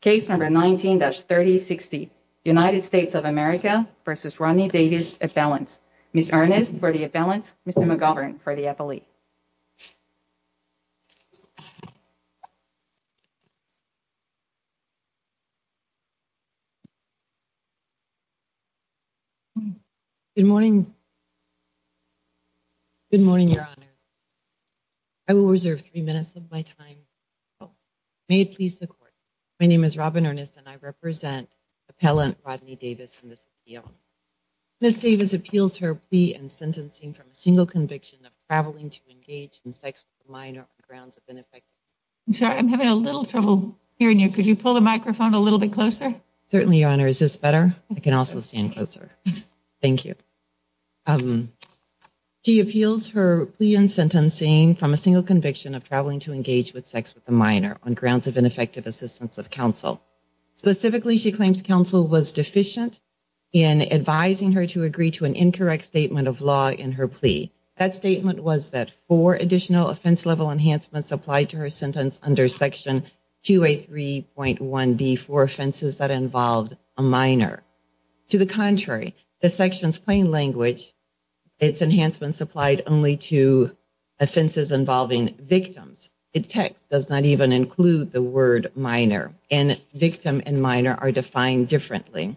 case number 19-3060 United States of America v. Rodney Davis appellant. Ms. Ernest for the appellant, Mr. McGovern for the appellate. Good morning. Good morning, Your Honor. I will reserve three minutes of my time. May it please the court. My name is Robin Ernest and I represent appellant Rodney Davis in this appeal. Ms. Davis appeals her plea and sentencing from a single conviction of traveling to engage in sex with a minor on grounds of ineffectiveness. I'm sorry, I'm having a little trouble hearing you. Could you pull the microphone a little bit closer? Certainly, Your Honor. Is this better? I can also stand closer. of ineffective assistance of counsel. Specifically, she claims counsel was deficient in advising her to agree to an incorrect statement of law in her plea. That statement was that four additional offense level enhancements applied to her sentence under section 2A3.1b for offenses that involved a minor. To the contrary, the section's plain language, its enhancements applied only to word minor and victim and minor are defined differently.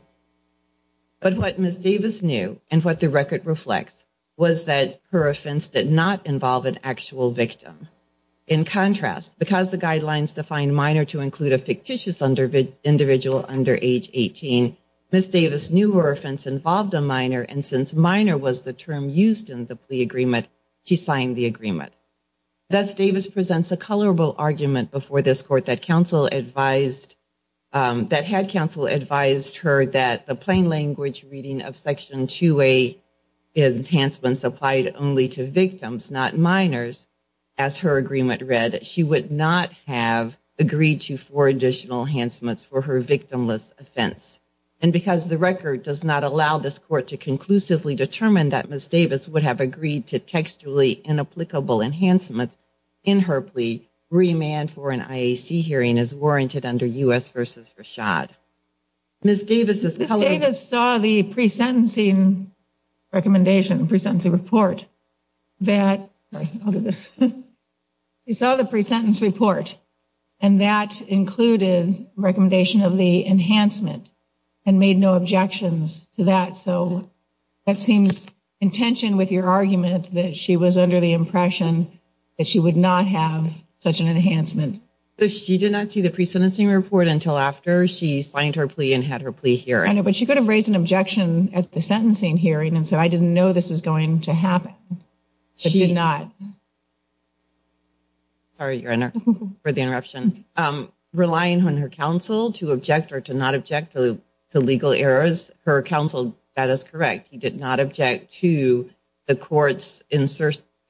But what Ms. Davis knew and what the record reflects was that her offense did not involve an actual victim. In contrast, because the guidelines define minor to include a fictitious individual under age 18, Ms. Davis knew her offense involved a minor and since minor was the term used in the plea agreement, she signed the agreement. Thus, Davis presents a colorable argument before this court that counsel advised, that had counsel advised her that the plain language reading of section 2A enhancements applied only to victims, not minors. As her agreement read, she would not have agreed to four additional enhancements for her victimless offense. And because the record does not allow this court to conclusively determine that Ms. Davis would have agreed to textually inapplicable enhancements in her plea, remand for an IAC hearing is warranted under U.S. v. Rashad. Ms. Davis saw the pre-sentencing recommendation, pre-sentencing report that you saw the pre-sentence report and that included recommendation of the enhancement and made no objections to that. So that seems in tension with your argument that she was under the impression that she would not have such an enhancement. She did not see the pre-sentencing report until after she signed her plea and had her plea hearing. I know but she could have raised an objection at the sentencing hearing and said I didn't know this was going to happen. She did not. Sorry your honor for the interruption. Relying on her counsel to object or to to legal errors. Her counsel that is correct. He did not object to the court's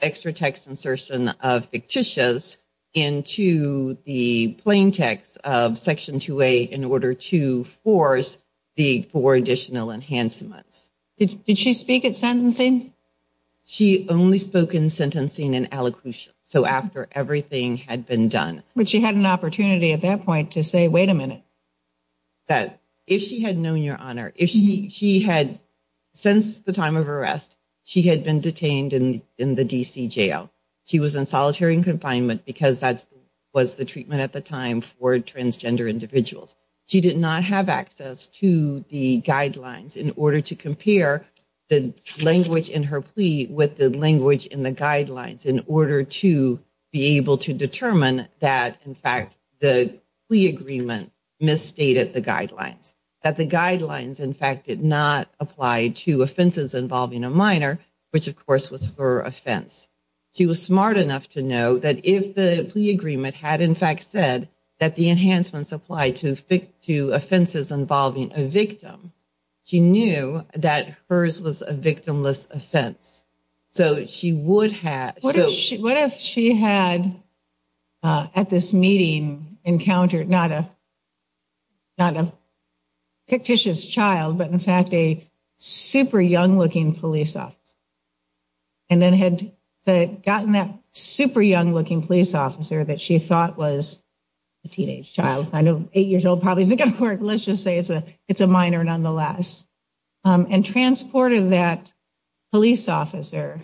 extra text insertion of fictitious into the plain text of section 2a in order to force the four additional enhancements. Did she speak at sentencing? She only spoke in sentencing and allocution. So after everything had been done. But she had an opportunity at that point to say wait a minute. That if she had known your honor if she she had since the time of arrest she had been detained in in the DC jail. She was in solitary confinement because that's was the treatment at the time for transgender individuals. She did not have access to the guidelines in order to compare the language in her plea with the language in the guidelines in order to be able to determine that in fact the plea agreement misstated the guidelines. That the guidelines in fact did not apply to offenses involving a minor. Which of course was her offense. She was smart enough to know that if the plea agreement had in fact said that the enhancements apply to to offenses involving a victim. She knew that hers was a victimless offense. So she would have. What if she had at this meeting encountered not a not a fictitious child but in fact a super young looking police officer. And then had gotten that super young looking police officer that she thought was a teenage child. I know eight years old probably isn't going to work. Let's just say it's a it's a minor nonetheless. And transported that police officer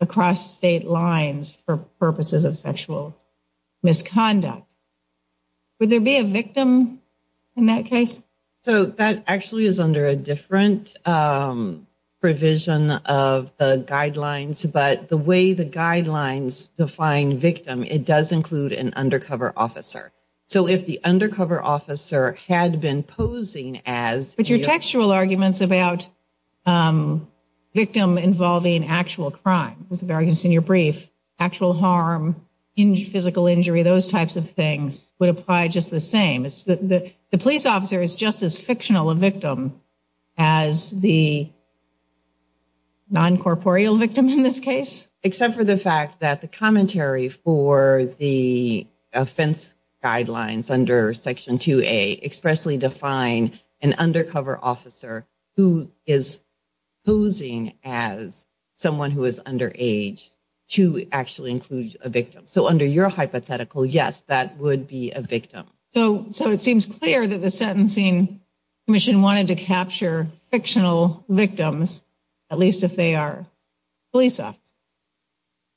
across state lines for purposes of sexual misconduct. Would there be a victim in that case? So that actually is under a different provision of the guidelines. But the way the guidelines define victim it does include an undercover officer. So if the undercover officer had been posing as. But your textual arguments about victim involving actual crime. Those are the arguments in your brief. Actual harm, physical injury, those types of things would apply just the same. The police officer is just as fictional a victim as the non-corporeal victim in this case. Except for the fact that the commentary for the offense guidelines under section 2a expressly define an undercover officer who is posing as someone who is under age to actually include a victim. So under your hypothetical yes that would be a victim. So so it seems clear that the sentencing commission wanted to capture fictional victims at least if they are police officers.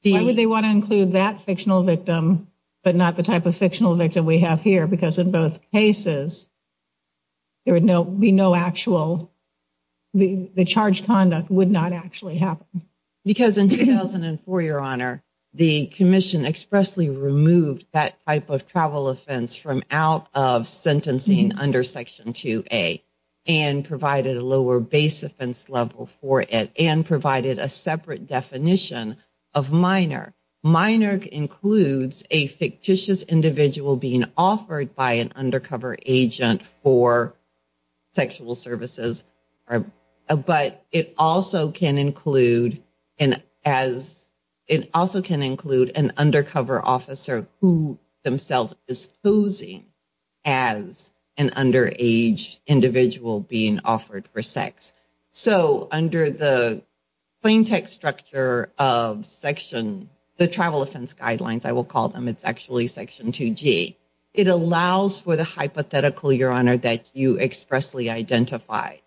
Why would they want to include that fictional victim but not the type of there would no be no actual the the charged conduct would not actually happen. Because in 2004 your honor the commission expressly removed that type of travel offense from out of sentencing under section 2a and provided a lower base offense level for it and provided a separate definition of minor. Minor includes a fictitious individual being offered by an undercover agent for sexual services. But it also can include and as it also can include an undercover officer who themselves is posing as an underage individual being offered for sex. So under the plain text structure of section the travel offense guidelines I will them it's actually section 2g. It allows for the hypothetical your honor that you expressly identify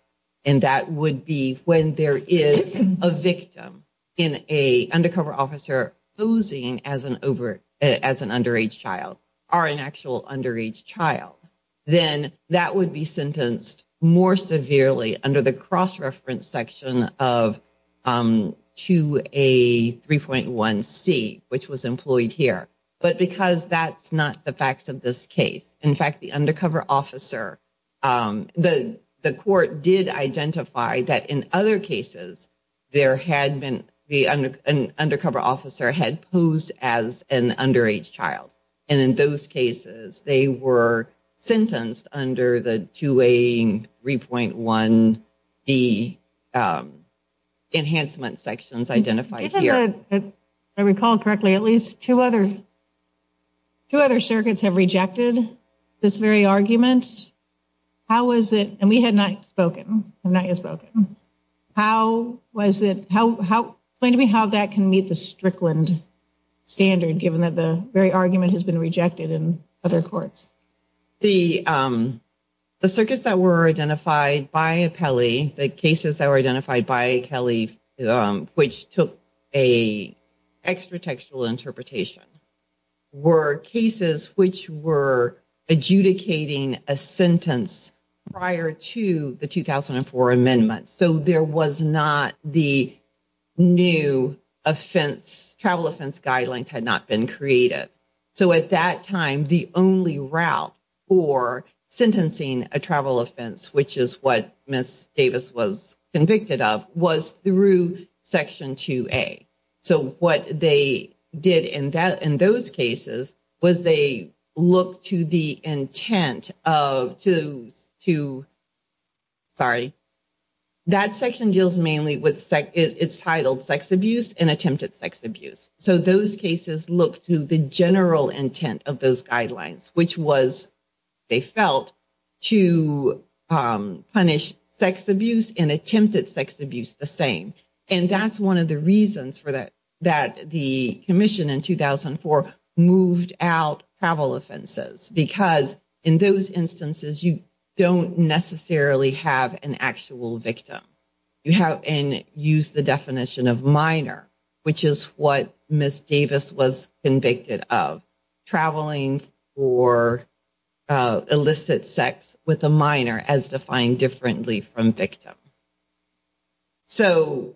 and that would be when there is a victim in a undercover officer posing as an over as an underage child or an actual underage child. Then that would be sentenced more severely under the cross-reference section of 2a 3.1c which was employed here. But because that's not the facts of this case in fact the undercover officer the the court did identify that in other cases there had been the undercover officer had posed as an underage child and in those cases they were sentenced under the 2a 3.1d enhancement sections identified here. I recall correctly at least two other two other circuits have rejected this very argument. How was it and we had not spoken I've not yet spoken. How was it how how explain to me how that can meet the Strickland standard given that the very argument has been rejected in other courts? The circuits that were identified by Apelli the cases that were identified by Kelly which took a extra textual interpretation were cases which were adjudicating a sentence prior to the 2004 amendment. So there was not the new offense travel offense guidelines had not been created. So at that time the only route for sentencing a travel offense which is what Ms. Davis was convicted of was through section 2a. So what they did in that in those cases was they looked to the intent of to to sorry that section deals mainly with it's titled sex abuse and attempted sex abuse. So those cases look to the general intent of those guidelines which was they felt to punish sex abuse and attempted sex abuse the same and that's one of the reasons for that that the commission in 2004 moved out travel offenses because in those instances you don't necessarily have an actual victim. You have and use the definition of minor which is what Ms. Davis was convicted of traveling for illicit sex with a minor as defined differently from victim. So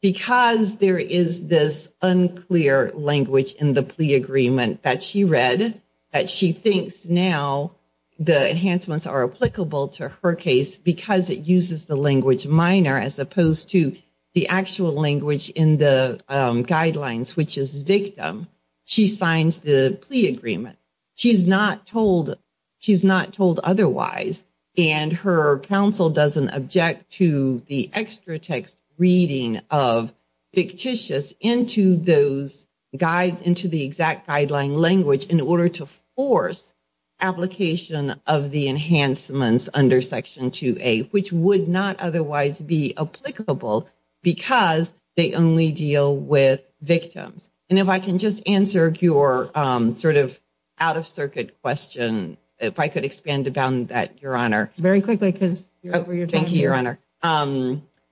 because there is this unclear language in the plea agreement that she read that she thinks now the enhancements are applicable to her case because it uses the language minor as opposed to the actual language in the guidelines which is victim she signs the plea agreement. She's not told she's not told otherwise and her counsel doesn't object to the extra text reading of fictitious into those guide into the exact guideline language in order to force application of the enhancements under Section 2A which would not otherwise be applicable because they only deal with victims and if I can just answer your sort of out of circuit question if I could expand about that your honor. Very quickly because you're over your thank you your honor.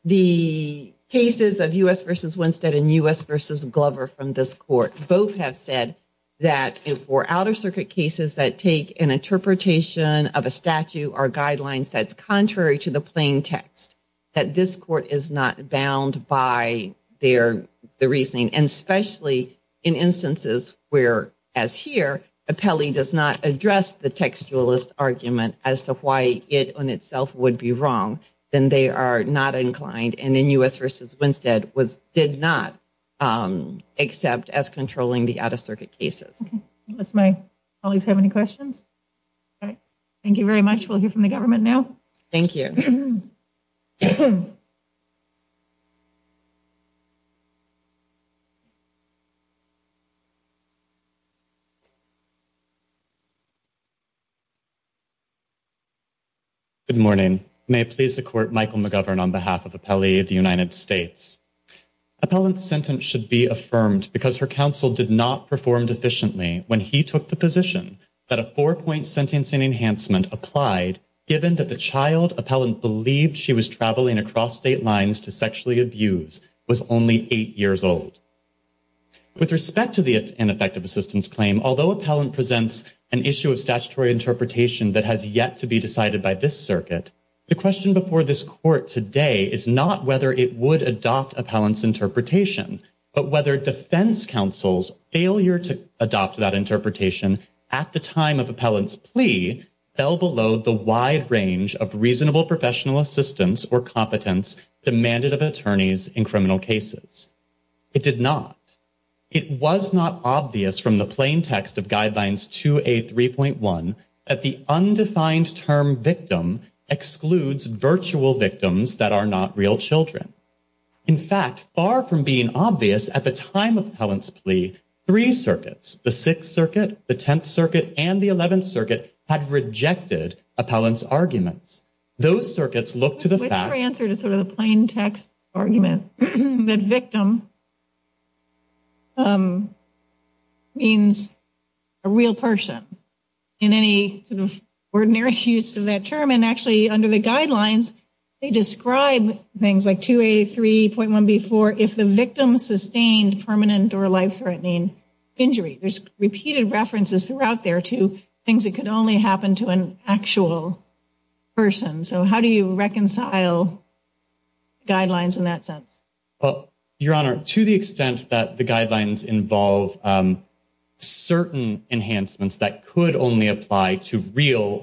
The cases of U.S. versus Winstead and U.S. versus Glover from this court both have said that for outer circuit cases that take an interpretation of a statute or guidelines that's contrary to the plain text that this court is not bound by their the reasoning and especially in instances where as here appellee does not address the textualist argument as to why it on itself would be wrong then they are not inclined and in U.S. versus Winstead was did not accept as controlling the out of circuit cases. Unless my colleagues have any questions all right thank you very much we'll hear from the government now. Thank you. Good morning may I please the court Michael McGovern on behalf of appellee of the United States. Appellant's sentence should be affirmed because her counsel did not perform efficiently when he took the position that a four-point sentencing enhancement applied given that the child appellant believed she was traveling across state lines to sexually abuse was only eight years old. With respect to the ineffective assistance claim although appellant presents an issue of statutory interpretation that has yet to be decided by this circuit the question before this court today is not whether it would adopt appellant's but whether defense counsel's failure to adopt that interpretation at the time of appellant's plea fell below the wide range of reasonable professional assistance or competence demanded of attorneys in criminal cases. It did not. It was not obvious from the plain text of guidelines 2a 3.1 that the undefined term victim excludes virtual victims that are not real In fact far from being obvious at the time of appellant's plea three circuits the 6th circuit the 10th circuit and the 11th circuit had rejected appellant's arguments. Those circuits look to the fact that victim means a real person in any sort of ordinary use of that term and actually under the guidelines they describe things like 2a 3.1b4 if the victim sustained permanent or life-threatening injury. There's repeated references throughout there to things that could only happen to an actual person. So how do you reconcile guidelines in that sense? Well your honor to the extent that the guidelines involve certain enhancements that could only apply to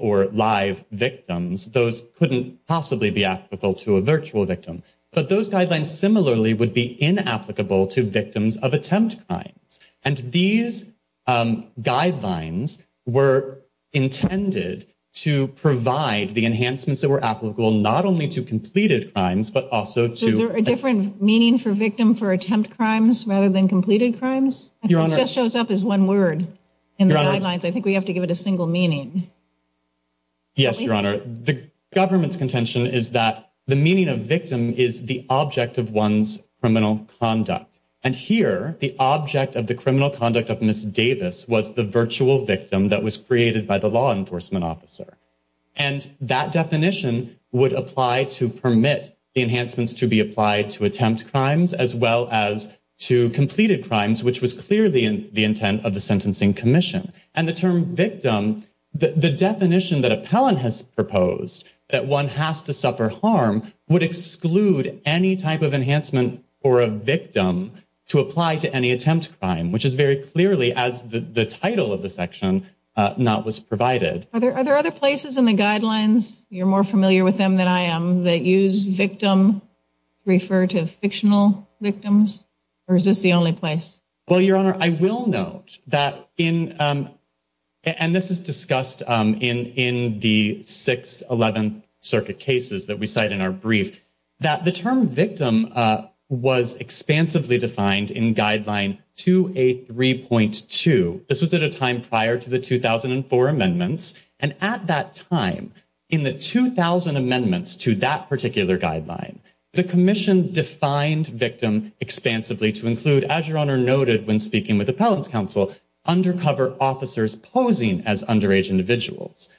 or live victims those couldn't possibly be applicable to a virtual victim but those guidelines similarly would be inapplicable to victims of attempt crimes and these guidelines were intended to provide the enhancements that were applicable not only to completed crimes but also to a different meaning for victim for attempt crimes rather than completed crimes. Your honor just shows up as one word in the guidelines. I think we have to give it a single meaning. Yes your honor the government's contention is that the meaning of victim is the object of one's criminal conduct and here the object of the criminal conduct of Miss Davis was the virtual victim that was created by the law enforcement officer and that definition would apply to permit the enhancements to be applied to attempt crimes as well as to completed crimes which was clearly in the intent of the sentencing commission and the term victim the definition that appellant has proposed that one has to suffer harm would exclude any type of enhancement for a victim to apply to any attempt crime which is very clearly as the title of the section not was provided. Are there other places in the guidelines you're more familiar with them than I am that use victim refer to fictional victims or is this the only place? Well your honor I will note that in and this is discussed in in the 611th circuit cases that we cite in our brief that the term victim was expansively defined in guideline 283.2. This was at a time prior to the 2004 amendments and at that time in the 2000 amendments to that particular guideline the commission defined victim expansively to include as your honor noted when speaking with appellants counsel undercover officers posing as underage individuals.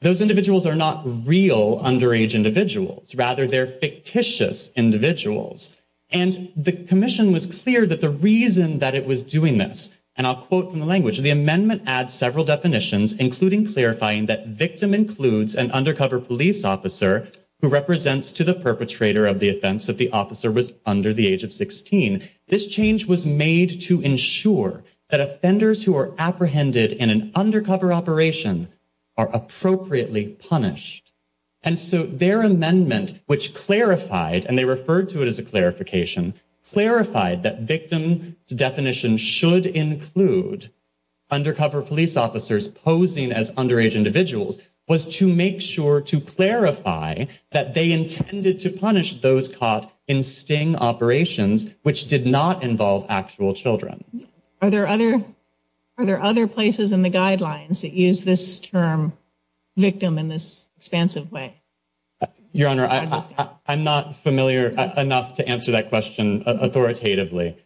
Those individuals are not real underage individuals rather they're fictitious individuals and the commission was clear that the reason that it was doing this and I'll quote from the language the amendment adds several definitions including clarifying that victim includes an undercover police officer who represents to the perpetrator of the offense that the officer was under the age of 16. This change was made to ensure that offenders who are apprehended in an undercover operation are appropriately punished and so their amendment which clarified and they referred to it as a clarification clarified that victim's definition should include undercover police officers posing as underage individuals was to make sure to clarify that they intended to punish those caught in sting operations which did not involve actual children. Are there other places in the guidelines that use this term victim in this expansive way? Your honor I'm not familiar enough to answer that question authoritatively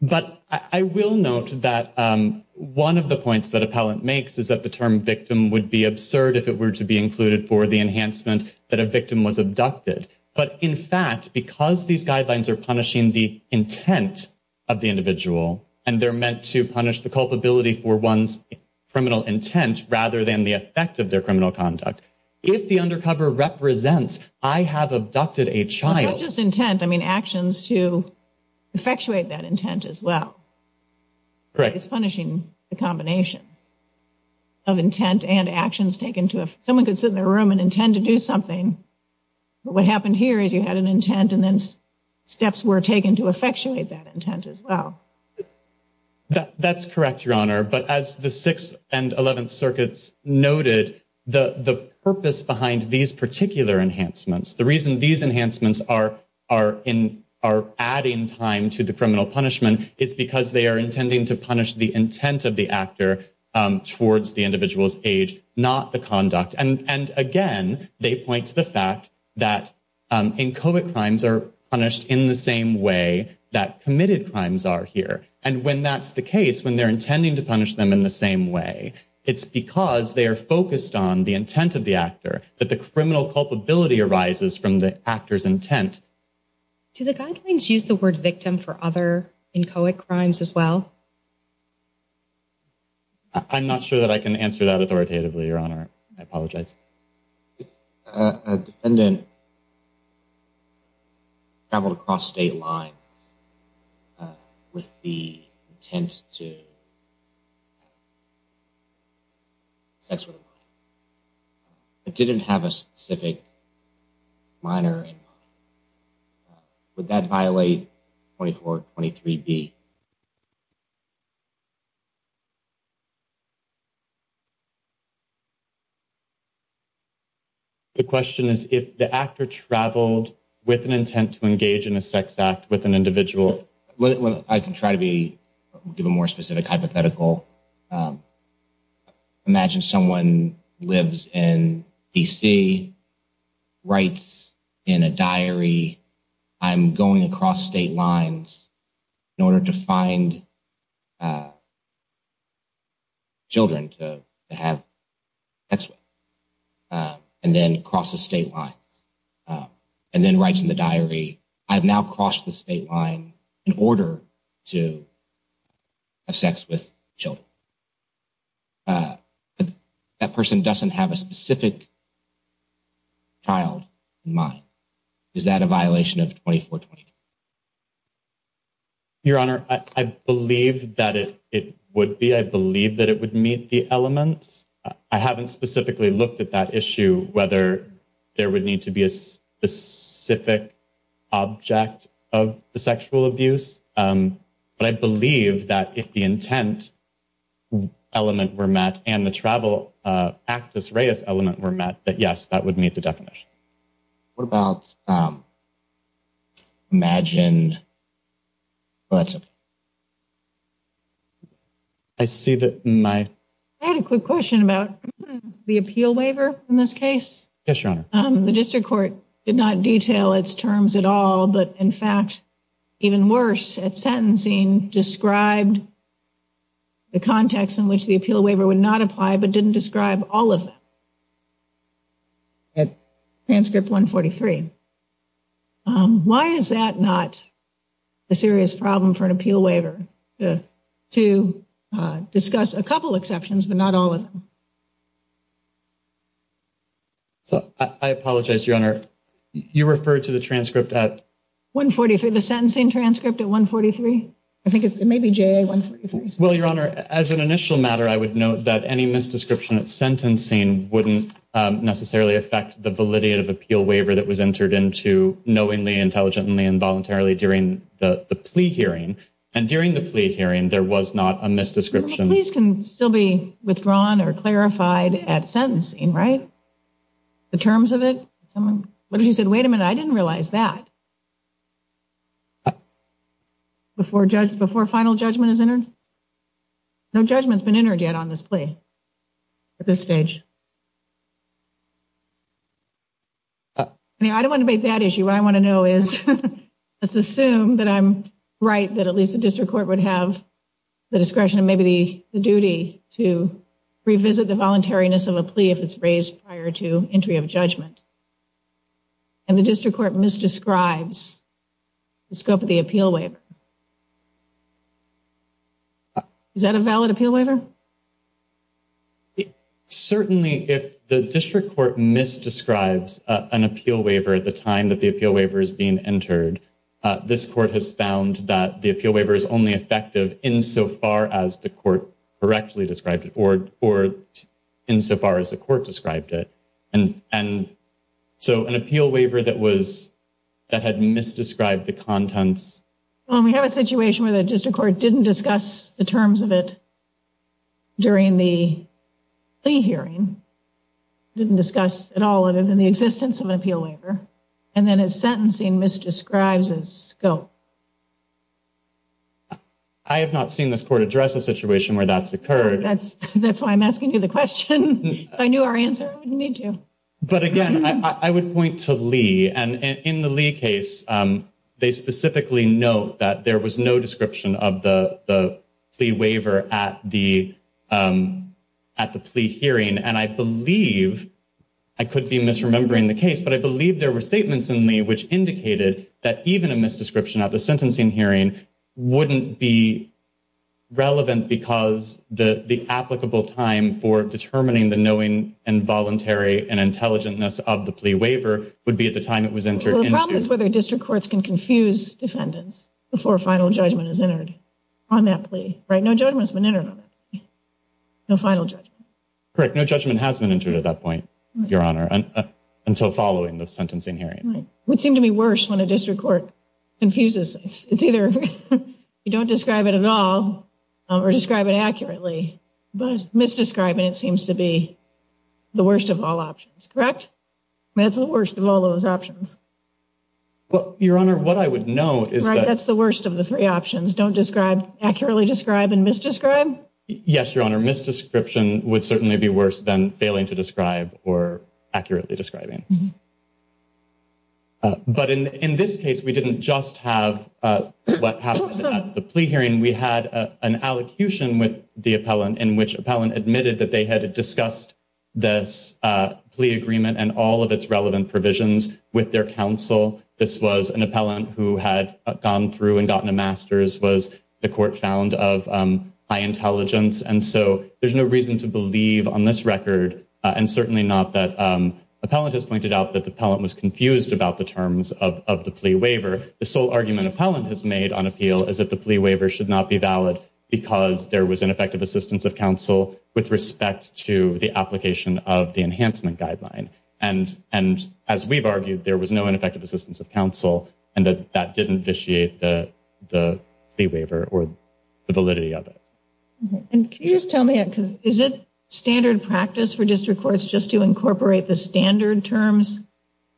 but I will note that one of the points that appellant makes is that the term would be absurd if it were to be included for the enhancement that a victim was abducted but in fact because these guidelines are punishing the intent of the individual and they're meant to punish the culpability for one's criminal intent rather than the effect of their criminal conduct if the undercover represents I have abducted a child. Not just intent I mean actions to effectuate that intent as well. Correct. It's punishing the combination of intent and actions taken to if someone could sit in the room and intend to do something but what happened here is you had an intent and then steps were taken to effectuate that intent as well. That's correct your honor but as the 6th and 11th circuits noted the the purpose behind these particular enhancements the reason these enhancements are are in are adding time to the criminal punishment is because they are intending to punish the intent of the actor towards the individual's age not the conduct and and again they point to the fact that in COVID crimes are punished in the same way that committed crimes are here and when that's the case when they're intending to punish them in the same way it's because they are focused on the intent of the actor that the criminal culpability arises from the actor's intent. Do the guidelines use the word victim for other inchoate crimes as well? I'm not sure that I can answer that authoritatively your honor I apologize. A defendant traveled across state lines with the intent to engage in a sex act with an individual. It didn't have a specific minor and would that violate 2423b? The question is if the actor traveled with an intent to engage in a sex act with an individual. I can try to be give a more specific hypothetical. Imagine someone lives in D.C. writes in a diary I'm going across state lines in order to find children to have sex with and then crosses state lines and then writes in the diary I've now crossed the state line in order to have sex with children. That person doesn't have a specific child in mind. Is that a violation of 2423b? Your honor I believe that it it would be I believe that it would meet the elements. I haven't specifically looked at that issue whether there would need to be a specific object of the sexual abuse but I believe that if the intent element were met and the travel actus reus element were met that yes that would meet the definition. What about imagine I see that my I had a quick question about the appeal waiver in this case. Yes your honor. The district court did not detail its terms at all but in fact even worse at sentencing described the context in which the appeal waiver would not apply but didn't describe all of them. Transcript 143. Why is that not a serious problem for an appeal waiver to discuss a couple exceptions but not all of them? So I apologize your honor you referred to the transcript at 143 the sentencing transcript at 143. I think it may be ja143. Well your honor as an initial matter I would note that any misdescription at sentencing wouldn't necessarily affect the validity of appeal waiver that was entered into knowingly intelligently involuntarily during the the plea hearing and during the plea hearing there was not a misdescription. Pleas can still be withdrawn or clarified at sentencing right the terms of it someone what if you said wait a minute I didn't realize that before judge before final judgment is entered no judgment's been entered yet on this plea at this stage. I mean I don't want to make that issue what I want to know is let's assume that I'm right that at least the district court would have the discretion and maybe the duty to revisit the voluntariness of a plea if it's raised prior to entry of judgment and the district court misdescribes the scope of the appeal waiver. Is that a valid appeal waiver? Certainly if the district court misdescribes an appeal waiver at the time that the appeal waiver is being entered this court has found that the appeal waiver is only effective insofar as the court correctly described it or or insofar as the court described it and and so an appeal waiver that was that had misdescribed the contents. Well we have a situation where the district court didn't discuss the terms of it during the plea hearing didn't discuss at all other than the existence of an appeal waiver and then it's sentencing misdescribes its scope. I have not seen this court address a situation where that's occurred. That's why I'm asking you the question. If I knew our answer I wouldn't need to. But again I would point to Lee and in the Lee case they specifically note that there was no description of the the plea waiver at the plea hearing and I believe I could be misremembering the case but I believe there were statements in Lee which indicated that even a misdescription of the sentencing hearing wouldn't be relevant because the the applicable time for determining the knowing and voluntary and intelligentness of the plea waiver would be at the time it was entered. The problem is whether district courts can confuse defendants before final judgment is entered on that plea right no judgment's been entered on that. No final judgment. Correct no judgment has been entered at that point your honor and until following the sentencing hearing. Would seem to be worse when a district court confuses it's either you don't describe it at all or describe it accurately but misdescribing it seems to be the worst of all options correct that's the worst of all those options. Well your honor what I would note is that that's the worst of the three options don't describe accurately describe and misdescribe. Yes your honor misdescription would certainly be worse than failing to describe or accurately describing. But in in this case we didn't just have what happened at the plea hearing we had an allocution with the appellant in which appellant admitted that they had discussed this plea agreement and all of its relevant provisions with their counsel this was an appellant who had gone through and gotten a master's was the court found of high intelligence and so there's no reason to believe on this record and certainly not that appellant has pointed out that the appellant was confused about the terms of the plea waiver the sole argument appellant has made on appeal is that the plea waiver should not be valid because there was ineffective assistance of counsel with respect to the application of the enhancement guideline and and as we've argued there was no ineffective assistance of counsel and that that didn't vitiate the the plea waiver or the validity of it and can you just tell me it because is it standard practice for district courts just to incorporate the standard terms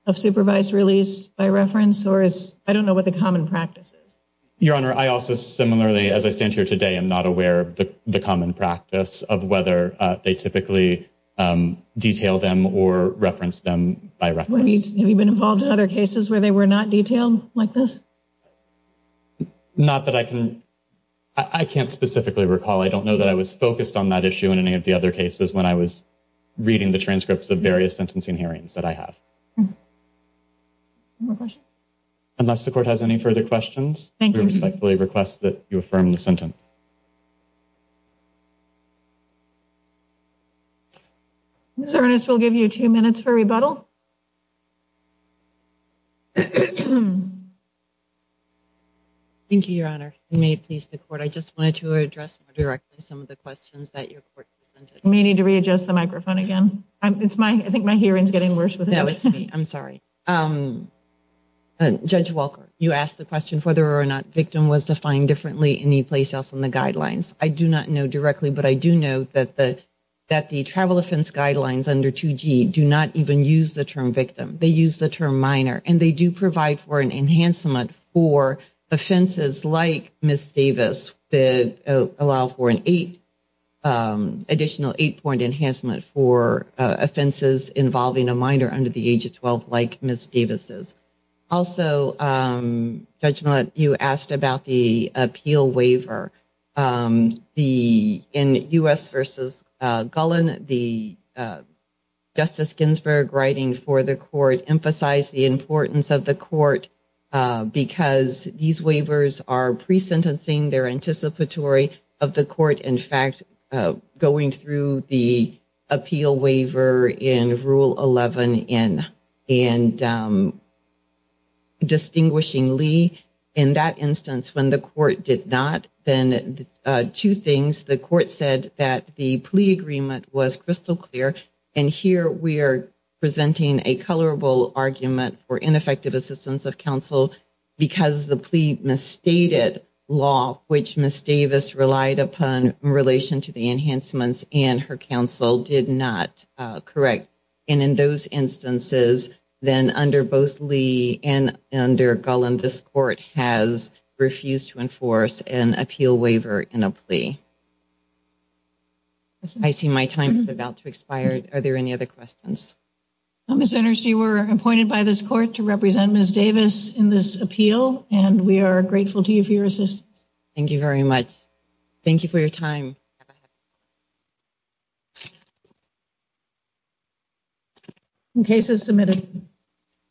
of supervised release by reference or is i don't know what the common practice is your honor i also similarly as i stand here today i'm not aware of the common practice of whether they typically detail them or reference them by reference have you been involved in other cases where they were not detailed like this not that i can i can't specifically recall i don't know that i was focused on that issue in any of the other cases when i was reading the transcripts of various sentencing hearings that i have unless the court has any further questions thank you respectfully request that you affirm the sentence thank you your honor may it please the court i just wanted to address more directly some of the questions that your court may need to readjust the microphone again i'm it's my i think my hearing is getting worse with no it's me i'm sorry um judge walker you asked the question whether or not victim was defined differently in the place else in the guidelines i do not agree with that i do not agree with that i do not agree with that i do know that the that the travel offense guidelines under 2g do not even use the term victim they use the term minor and they do provide for an enhancement for offenses like miss davis that allow for an eight um additional eight point enhancement for offenses involving a minor under the age of 12 like miss davis's also um judgment you asked about the in u.s versus gullen the justice ginsburg writing for the court emphasize the importance of the court because these waivers are pre-sentencing their anticipatory of the court in fact going through the appeal waiver in rule 11 in and distinguishingly in that instance when the court did not then two things the court said that the plea agreement was crystal clear and here we are presenting a colorable argument for ineffective assistance of counsel because the plea misstated law which miss davis relied upon in relation to the enhancements and her counsel did not correct and in those instances then under both lee and under gullen this court has refused to enforce an appeal waiver in a plea i see my time is about to expire are there any other questions i'm a senator you were appointed by this court to represent miss davis in this appeal and we are grateful to you for your assistance thank you very much thank you for your time you cases submitted